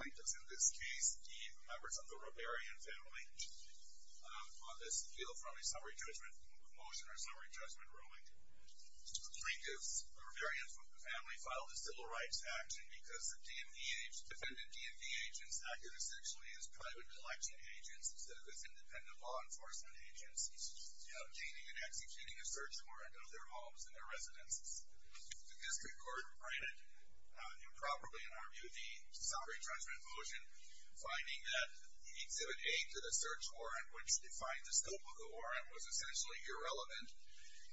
Plaintiffs in this case, the members of the Rahbarian family, on this appeal from a summary judgment motion or summary judgment ruling, the plaintiffs, the Rahbarians from the family, filed a civil rights action because the defendant DMV agents acted essentially as private collection agents instead of as independent law enforcement agents obtaining and executing a search warrant of their homes and their residences. The district court granted improperly, in our view, the summary judgment motion, finding that Exhibit A to the search warrant, which defined the scope of the warrant, was essentially irrelevant,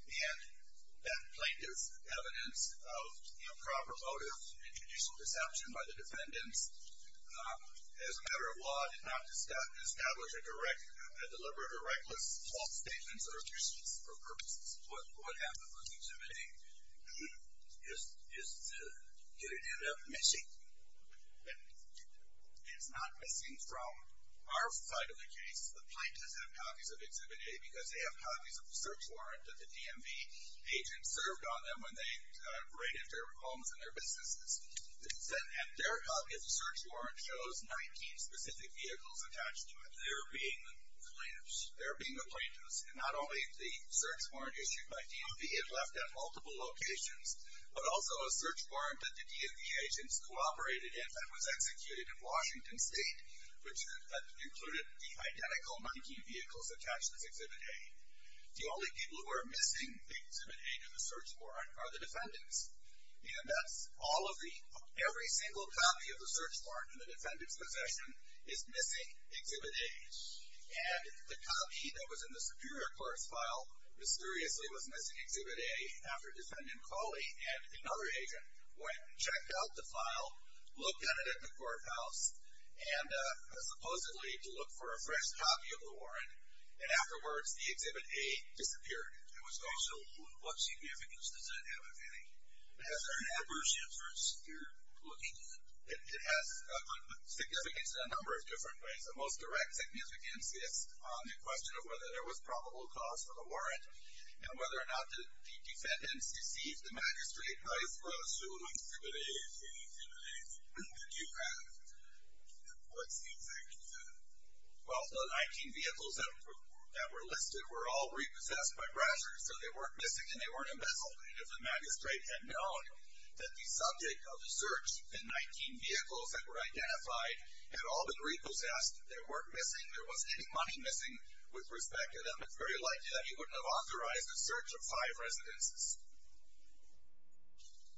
and that plaintiff's evidence of improper motive and judicial deception by the defendants, as a matter of law, did not establish a deliberate or reckless false statement or excuse for purposes. What happened with Exhibit A is to get it ended up missing, but it's not missing from our side of the case, the plaintiffs have copies of Exhibit A because they have copies of the search warrant that the DMV agents served on them when they raided their homes and their businesses. And their copy of the search warrant shows 19 specific vehicles attached to it. They're being the plaintiffs. They're being the plaintiffs. And not only the search warrant issued by DMV had left at multiple locations, but also a search warrant that the DMV agents cooperated in that was executed in Washington State, which included the identical 19 vehicles attached as Exhibit A. The only people who are missing Exhibit A to the search warrant are the defendants. And that's all of the, every single copy of the search warrant in the defendant's possession is missing Exhibit A. And the copy that was in the Superior Court's file mysteriously was missing Exhibit A after Defendant Coley and another agent went and checked out the file, looked at it at the courthouse, and supposedly to look for a fresh copy of the warrant. And afterwards, the Exhibit A disappeared. It was also, what significance does it have, if any? Has there been adverse inference here, looking at it? It has significance in a number of different ways. The most direct significance is on the question of whether there was probable cause for the warrant, and whether or not the defendants deceived the magistrate by suing Exhibit A for the Exhibit A that you have. What's the exact reason? Well, the 19 vehicles that were listed were all repossessed by brashers, so they weren't missing and they weren't embezzled. If the magistrate had known that the subject of the search, the 19 vehicles that were identified, had all been repossessed, they weren't missing, there wasn't any money missing with respect to them, it's very likely that he wouldn't have authorized the search of five residences.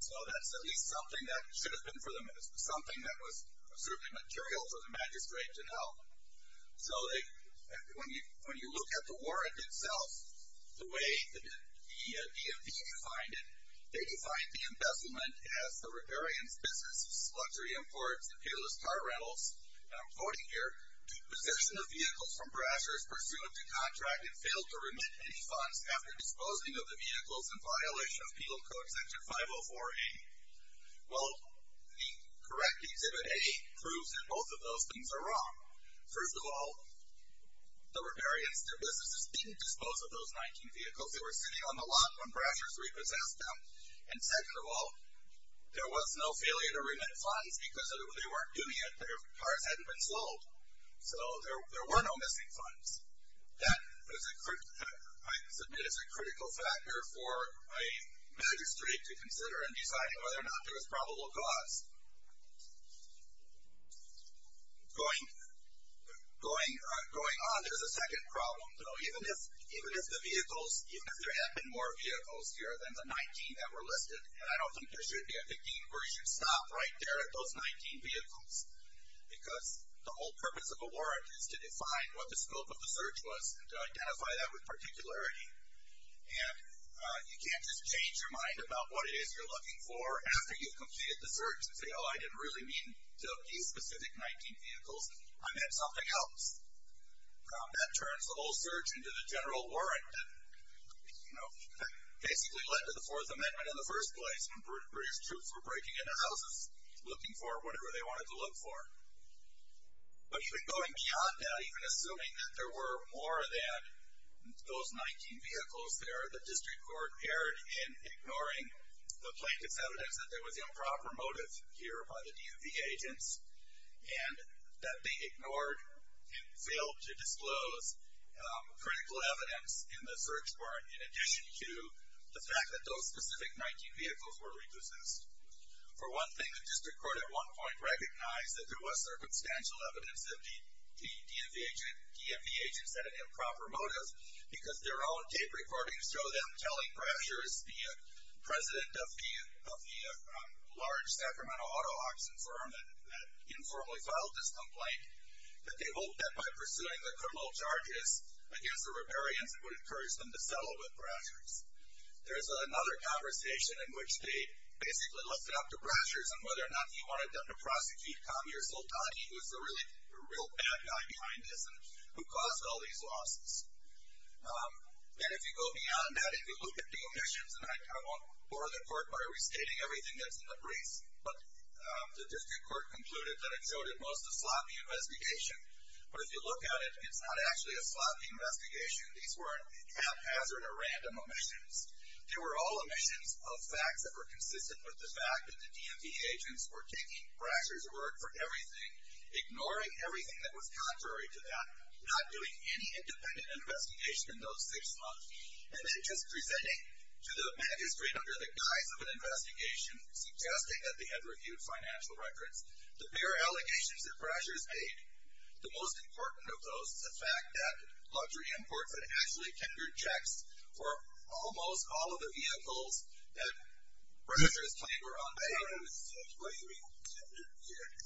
So that's at least something that should have been for them, something that was certainly material for the magistrate to know. So when you look at the warrant itself, the way the DMV defined it, they defined the embezzlement as the riparian's business of sludgery, imports, and peerless car rentals, and I'm quoting here, deposition of vehicles from brashers, pursuant to contract, and failed to remit any funds after disposing of the vehicles in violation of Penal Code Section 504A. Well, the correct exhibit A proves that both of those things are wrong. First of all, the riparians, their businesses didn't dispose of those 19 vehicles, they were sitting on the lot when brashers repossessed them, and second of all, there was no failure to remit funds because they weren't doing it, their cars hadn't been sold, so there were no missing funds. That, I submit, is a critical factor for a magistrate to consider in deciding whether or not there was probable cause. Going on, there's a second problem. Even if the vehicles, even if there had been more vehicles here than the 19 that were listed, and I don't think there should be a 15 where you should stop right there at those 19 vehicles, because the whole purpose of a warrant is to define what the scope of the search was and to identify that with particularity, and you can't just change your mind about what it is you're looking for after you've completed the search and say, oh, I didn't really mean to abuse specific 19 vehicles, I meant something else. That turns the whole search into the general warrant that basically led to the Fourth Amendment in the first place when British troops were breaking into houses looking for whatever they wanted to look for. But even going beyond that, even assuming that there were more than those 19 vehicles there, the district court erred in ignoring the plaintiff's evidence that there was improper motive here by the DUV agents, and that they ignored and failed to disclose critical evidence in the search warrant in addition to the fact that those specific 19 vehicles were repossessed. For one thing, the district court at one point recognized that there was circumstantial evidence that the DMV agents had an improper motive because their own tape recordings show them telling Brashers, the president of the large Sacramento auto auction firm that informally filed this complaint, that they hoped that by pursuing the criminal charges against the riparians, it would encourage them to settle with Brashers. There's another conversation in which they basically lifted up to Brashers on whether or not he wanted them to prosecute Commie or Soltani, who's the real bad guy behind this and who caused all these losses. And if you go beyond that, if you look at the omissions, and I won't bore the court by restating everything that's in the briefs, but the district court concluded that it showed at most a sloppy investigation. But if you look at it, it's not actually a sloppy investigation. These weren't haphazard or random omissions. They were all omissions of facts that were consistent with the fact that the DMV agents were taking Brashers' word for everything, ignoring everything that was contrary to that, not doing any independent investigation in those six months, and then just presenting to the magistrate under the guise of an investigation, suggesting that they had reviewed financial records. The bigger allegations that Brashers made, the most important of those is the fact that Luxury Imports had actually tendered checks for almost all of the vehicles that Brashers claimed were on bail. I don't understand. Why do you mean tendered checks?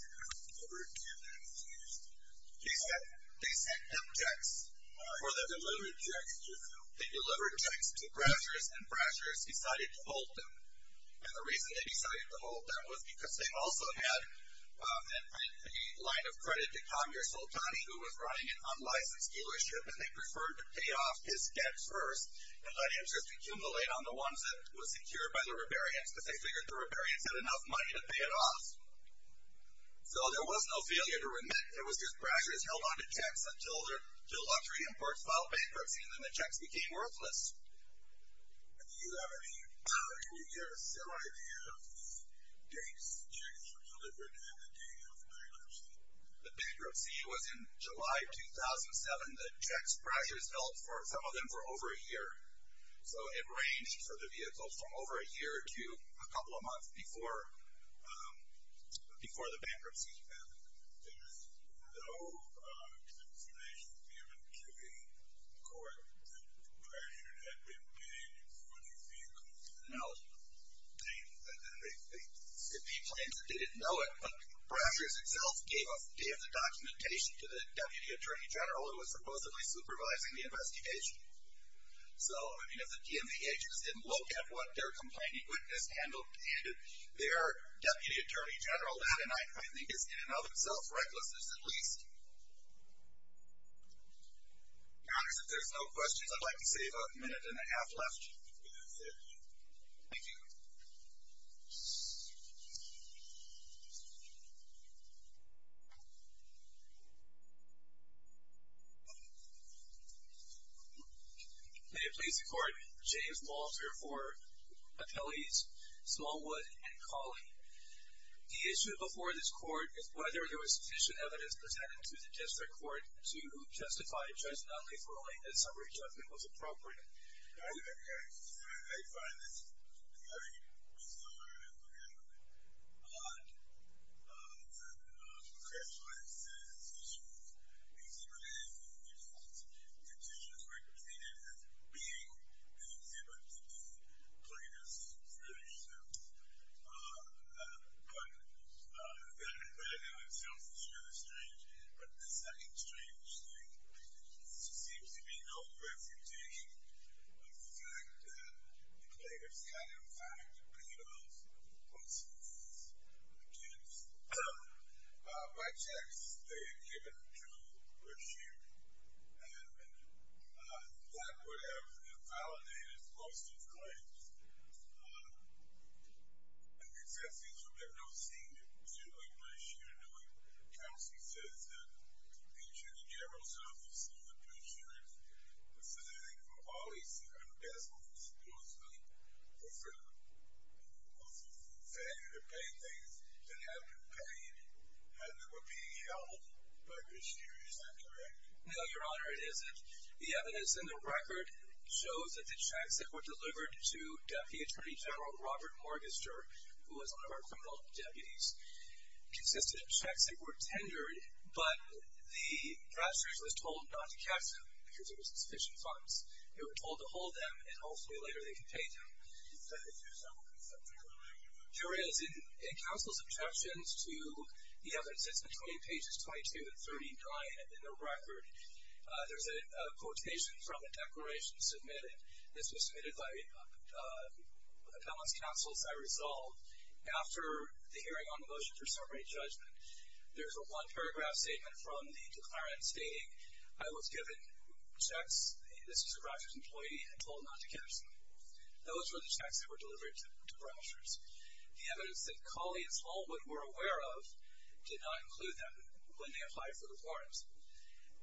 Delivered checks. Excuse me. They sent them checks. Or they delivered checks to who? They delivered checks to Brashers, and Brashers decided to hold them. And the reason they decided to hold them was because they also had a line of credit to licensed dealership, and they preferred to pay off his debt first and let interest accumulate on the ones that were secured by the rebarriants, because they figured the rebarriants had enough money to pay it off. So there was no failure to remit. It was just Brashers held onto checks until Luxury Imports filed bankruptcy, and then the checks became worthless. Do you have any idea of the dates the checks were delivered on the day of bankruptcy? The bankruptcy was in July 2007. The checks Brashers held for some of them for over a year. So it ranged for the vehicles from over a year to a couple of months before the bankruptcy happened. There was no information given to the court that Brashers had been paying for the vehicles? No. There could be claims that they didn't know it, but Brashers itself gave the documentation to the Deputy Attorney General who was supposedly supervising the investigation. So, I mean, if the DMV agents didn't look at what their complaining witness handled, and their Deputy Attorney General, that in and of itself is recklessness at least. If there's no questions, I'd like to save a minute and a half left. Thank you. May it please the Court. James Walter for Appellees, Smallwood and Cauley. The issue before this Court is whether there was sufficient evidence presented to the District Court to justify Judge Nunley's ruling that summary judgment was appropriate. Thank you. I find this very bizarre and odd. It's one of the most controversial instances. Exhibited in default conditions, represented as being an exhibit to the plaintiffs themselves. But that in and of itself is really strange. But the second strange thing, there seems to be no representation of the fact that the plaintiffs got, in fact, paid off the lawsuits against the plaintiffs. By text, they had given it to Brasher and that would have invalidated most of the claims. I guess that seems to have nothing to do with Brasher or Nunley. Counsel says that the Attorney General's Office and the District, the Senate and all these other vessels, were free to pay things that had been paid and that were being held by Brasher. Is that correct? No, Your Honor, it isn't. The evidence in the record shows that the checks that were delivered to Deputy Attorney General Robert Morgenstern, who was one of our criminal deputies, consisted of checks that were tendered, but the Brashers was told not to cash them because there was insufficient funds. They were told to hold them and hopefully later they could pay them. Here is, in counsel's objections to the evidence, it's between pages 22 and 39 in the record. There's a quotation from a declaration submitted. This was submitted by Appellant's counsel, Cy Resolve. After the hearing on the motion for summary judgment, there's a one-paragraph statement from the declarant stating, I was given checks, this was a Brasher's employee, and told not to cash them. Those were the checks that were delivered to Brashers. The evidence that Colley and Smallwood were aware of did not include them when they applied for the warrants.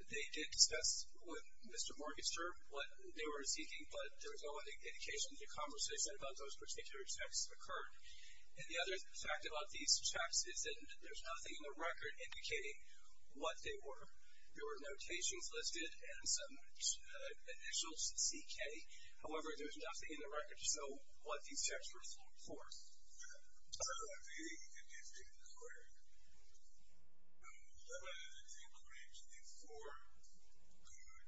They did discuss with Mr. Morgenstern what they were seeking, but there was no indication in the conversation about those particular checks that occurred. And the other fact about these checks is that there's nothing in the record indicating what they were. There were notations listed and some initials, CK. However, there's nothing in the record to show what these checks were for. So, I think you did get it correct. That includes the four good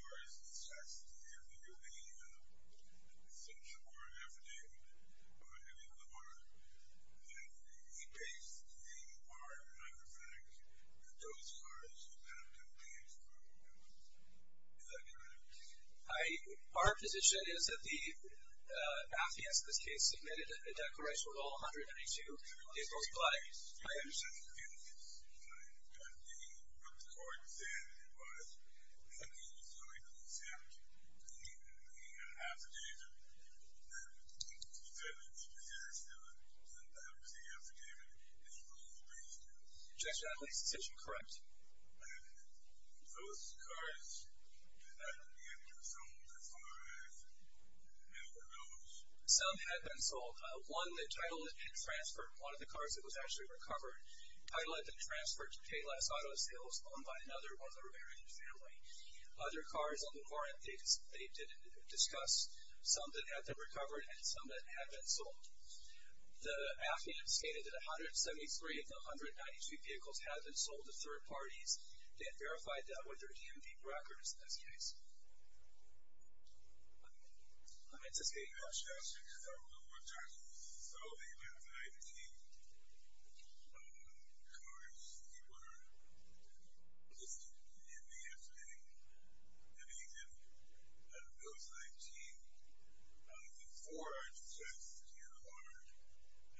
cars assessed, if you believe the central court affidavit or any law, that he based the part on the fact that those cars had not been damaged by weapons. Is that correct? Our position is that the affidavits, in this case, submitted a declaration with all 132 April's flags. I understand the evidence. He put the car in his hand and it was, and he was going to exempt the affidavit, and he said that he possessed the affidavit, and he was going to bring it to us. Objection, that makes the decision correct. Those cars did not get sold. The five never did. Some had been sold. One, the title that had been transferred, one of the cars that was actually recovered, title that had been transferred to Payless Auto Sales, owned by another of the Reverend's family. Other cars on the warrant, they did discuss, some that had been recovered and some that had been sold. The affidavit stated that 173 of the 192 vehicles had been sold to third parties. They had verified that with their DMV records, in this case. I'm anticipating that. Yes, yes. So the 19 cars that were listed in the affidavit, that he did, those 19, the four are just here on the warrant,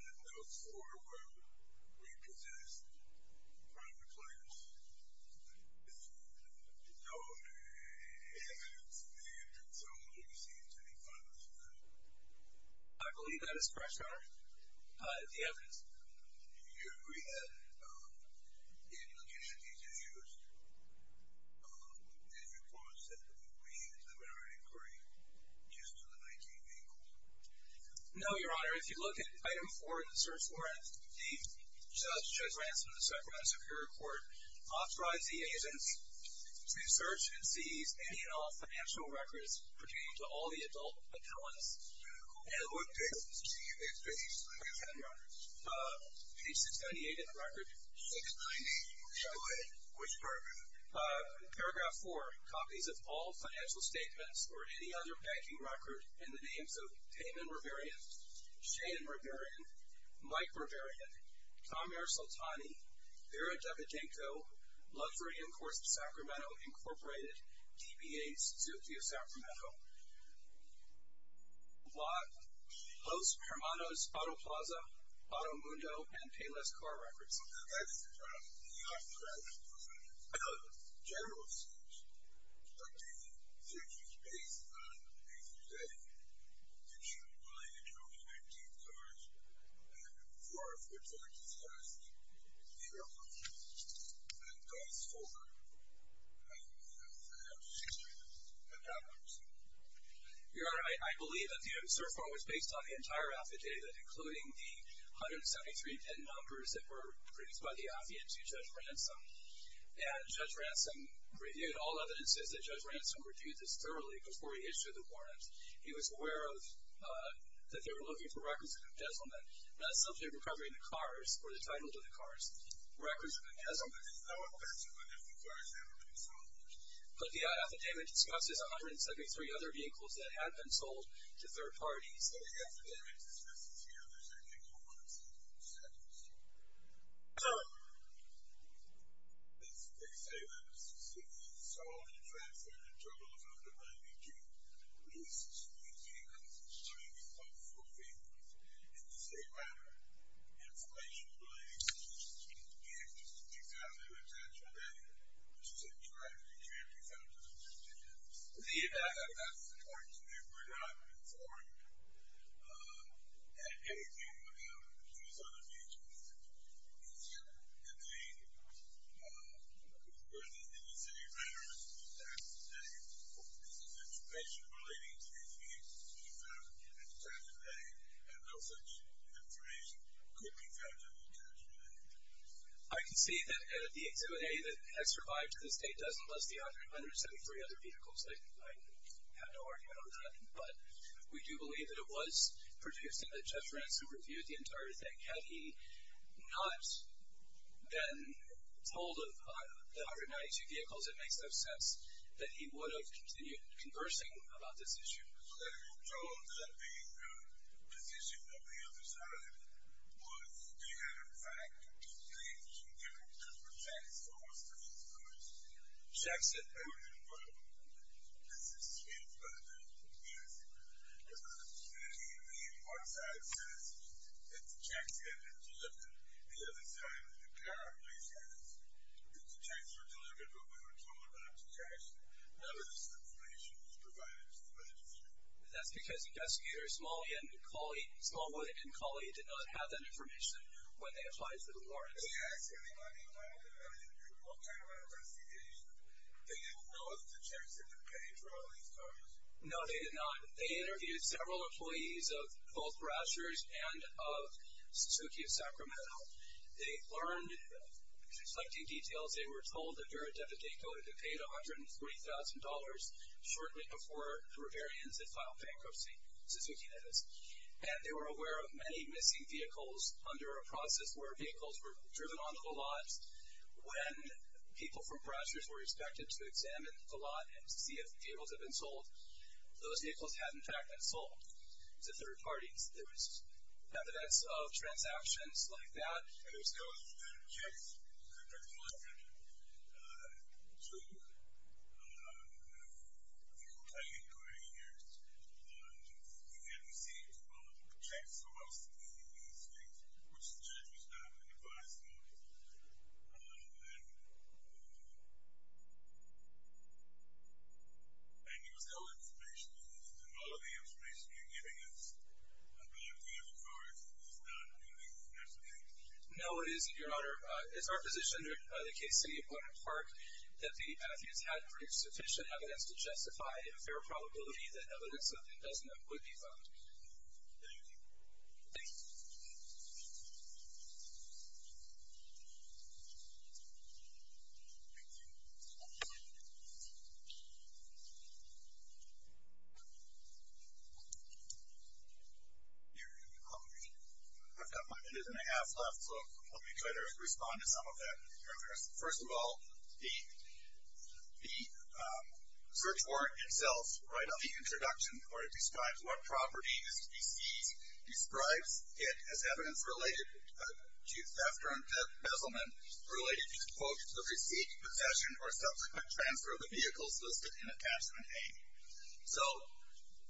and those four were repossessed private clients. There's no evidence they had been sold, or received, to be found in the affidavit. I believe that is correct, Your Honor. The evidence. Do you agree that, in looking at these videos, that your clause said that we used the warrant inquiry just for the 19 vehicles? No, Your Honor. If you look at item four in the search warrant, the judge, Judge Ransom, the second prosecutor in court, authorized the agents to search and seize any and all financial records pertaining to all the adult accountants. And what date was this? Page 698, Your Honor. Page 698 in the record. 698. Go ahead. Which part of it? Paragraph four. Copies of all financial statements, or any other banking record, in the names of Payman Reverian, Shane Reverian, Mike Reverian, Tamir Soltani, Vera Davidenko, Luxury Enforced Sacramento, Incorporated, DBA, Suzuki of Sacramento. Post Hermanos Auto Plaza, Auto Mundo, and Payless Car Records. That's correct, Your Honor. Now, the general search, the search is based on a setting that's related to 19 cars, and four of which are disguised. They are on page 564 of the search warrant. And that one. Your Honor, I believe that the search warrant was based on the entire affidavit, including the 173 pin numbers that were produced by the affidavit to Judge Ransom. And Judge Ransom reviewed all evidences that Judge Ransom reviewed this thoroughly before he issued the warrant. He was aware that they were looking for records of embezzlement, not a subject of recovery in the cars, or the titles of the cars. Records of embezzlement. I would bet you that the cars have been sold. But the affidavit discusses 173 other vehicles that had been sold to third parties. But the affidavit discusses the other 173 cars. Seconds. They say that a specific install and transfer of the totals of the 92 leased vehicles to any of the four vehicles. In the same manner, information relating to the 16,000 was actually added to the directory. It can't be found in the affidavits. The affidavits, according to me, were not informed that anything would happen to these other vehicles. It's contained within the city of Randolph, which is active today. This is information relating to the 16,000 vehicles found today, and no such information could be found in the attachment. I can see that the Exhibit A that has survived to this date doesn't list the 173 other vehicles. I have no argument on that. But we do believe that it was produced and that Jeff Ransom reviewed the entire thing. Had he not been told of the other 92 vehicles, it makes no sense that he would have continued conversing about this issue. So that he was told that the position of the other side was they had, in fact, received some different types of tax dollars for these vehicles. Jack said everything was fine. This is him, by the way. Yes. And I'm just going to read what side says that the tax had been delivered. The other side apparently says that the tax was delivered, but we were told not to tax it. None of this information was provided to the legislature. That's because the investigators, Smallwood and Cawley, did not have that information when they applied for the warrants. They asked if they had any kind of evaluation. What kind of an investigation? They didn't know if the tax had been paid for all these cars? No, they did not. They interviewed several employees of both Rousers and of Suzuki of Sacramento. They learned conflicting details. They were told that they were a debit decoder that paid $140,000 shortly before the Rivarians had filed bankruptcy. Suzuki did this. And they were aware of many missing vehicles under a process where vehicles were driven onto the lots. When people from Rousers were expected to examine the lot and see if vehicles had been sold, those vehicles had, in fact, been sold to third parties. There was evidence of transactions like that. And there's still a case that the legislature took. I think it was eight years. We had received a check for us in the United States, which the judge was not advised of. And there was no information. And all of the information you're giving us about the other cars is not No, it isn't, Your Honor. It's our position that the case in the apartment park, that the Pantheons had sufficient evidence to justify a fair probability that evidence that it doesn't have would be found. Thank you. Thank you. I've got five minutes and a half left, so let me try to respond to some of that. First of all, the search warrant itself, right on the introduction, where it describes what property is to be seized, describes it as evidence related to theft or embezzlement, or possession of a property that is not owned by the owner. And then it says, it describes it as evidence related to possession or subsequent transfer of the vehicles listed in Attachment A. So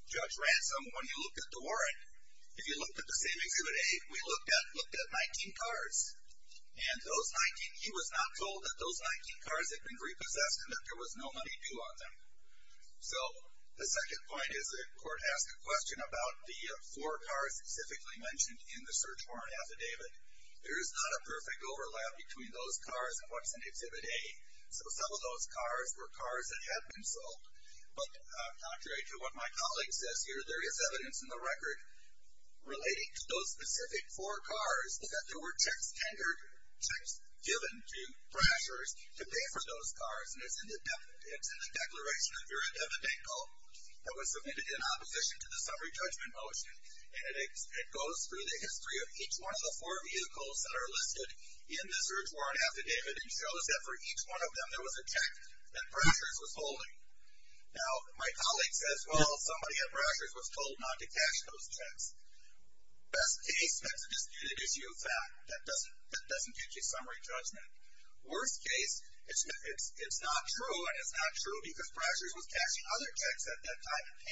Judge Ransom, when he looked at the warrant, if you looked at the same Exhibit A, we looked at 19 cars. And he was not told that those 19 cars had been repossessed and that there was no money due on them. So the second point is the court asked a question about the four cars specifically mentioned in the search warrant affidavit. There is not a perfect overlap between those cars and what's in Exhibit A. So some of those cars were cars that had been sold. But contrary to what my colleague says here, there is evidence in the record relating to those specific four cars that there were checks tendered, checks given to crashers to pay for those cars. And it's in the declaration of your affidavit call that was submitted in opposition to the summary judgment motion. And it goes through the history of each one of the four vehicles that are listed in the search warrant affidavit and shows that for each one of them there was a check that crashers was holding. Now, my colleague says, well, somebody at crashers was told not to cash those checks. Best case, that's a disputed issue of fact. That doesn't get you summary judgment. Worst case, it's not true, and it's not true because crashers was cashing other checks at that time, and the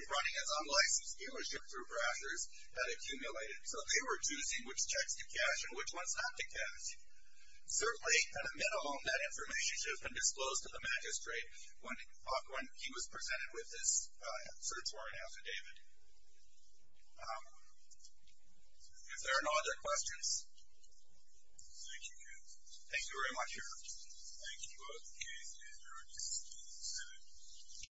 information running as unlicensed dealership through crashers had accumulated. So they were choosing which checks to cash and which ones not to cash. Certainly, at a minimum, that information should have been disclosed to the magistrate when he was presented with this search warrant affidavit. If there are no other questions. Thank you. Thank you very much, Your Honor. Thank you both.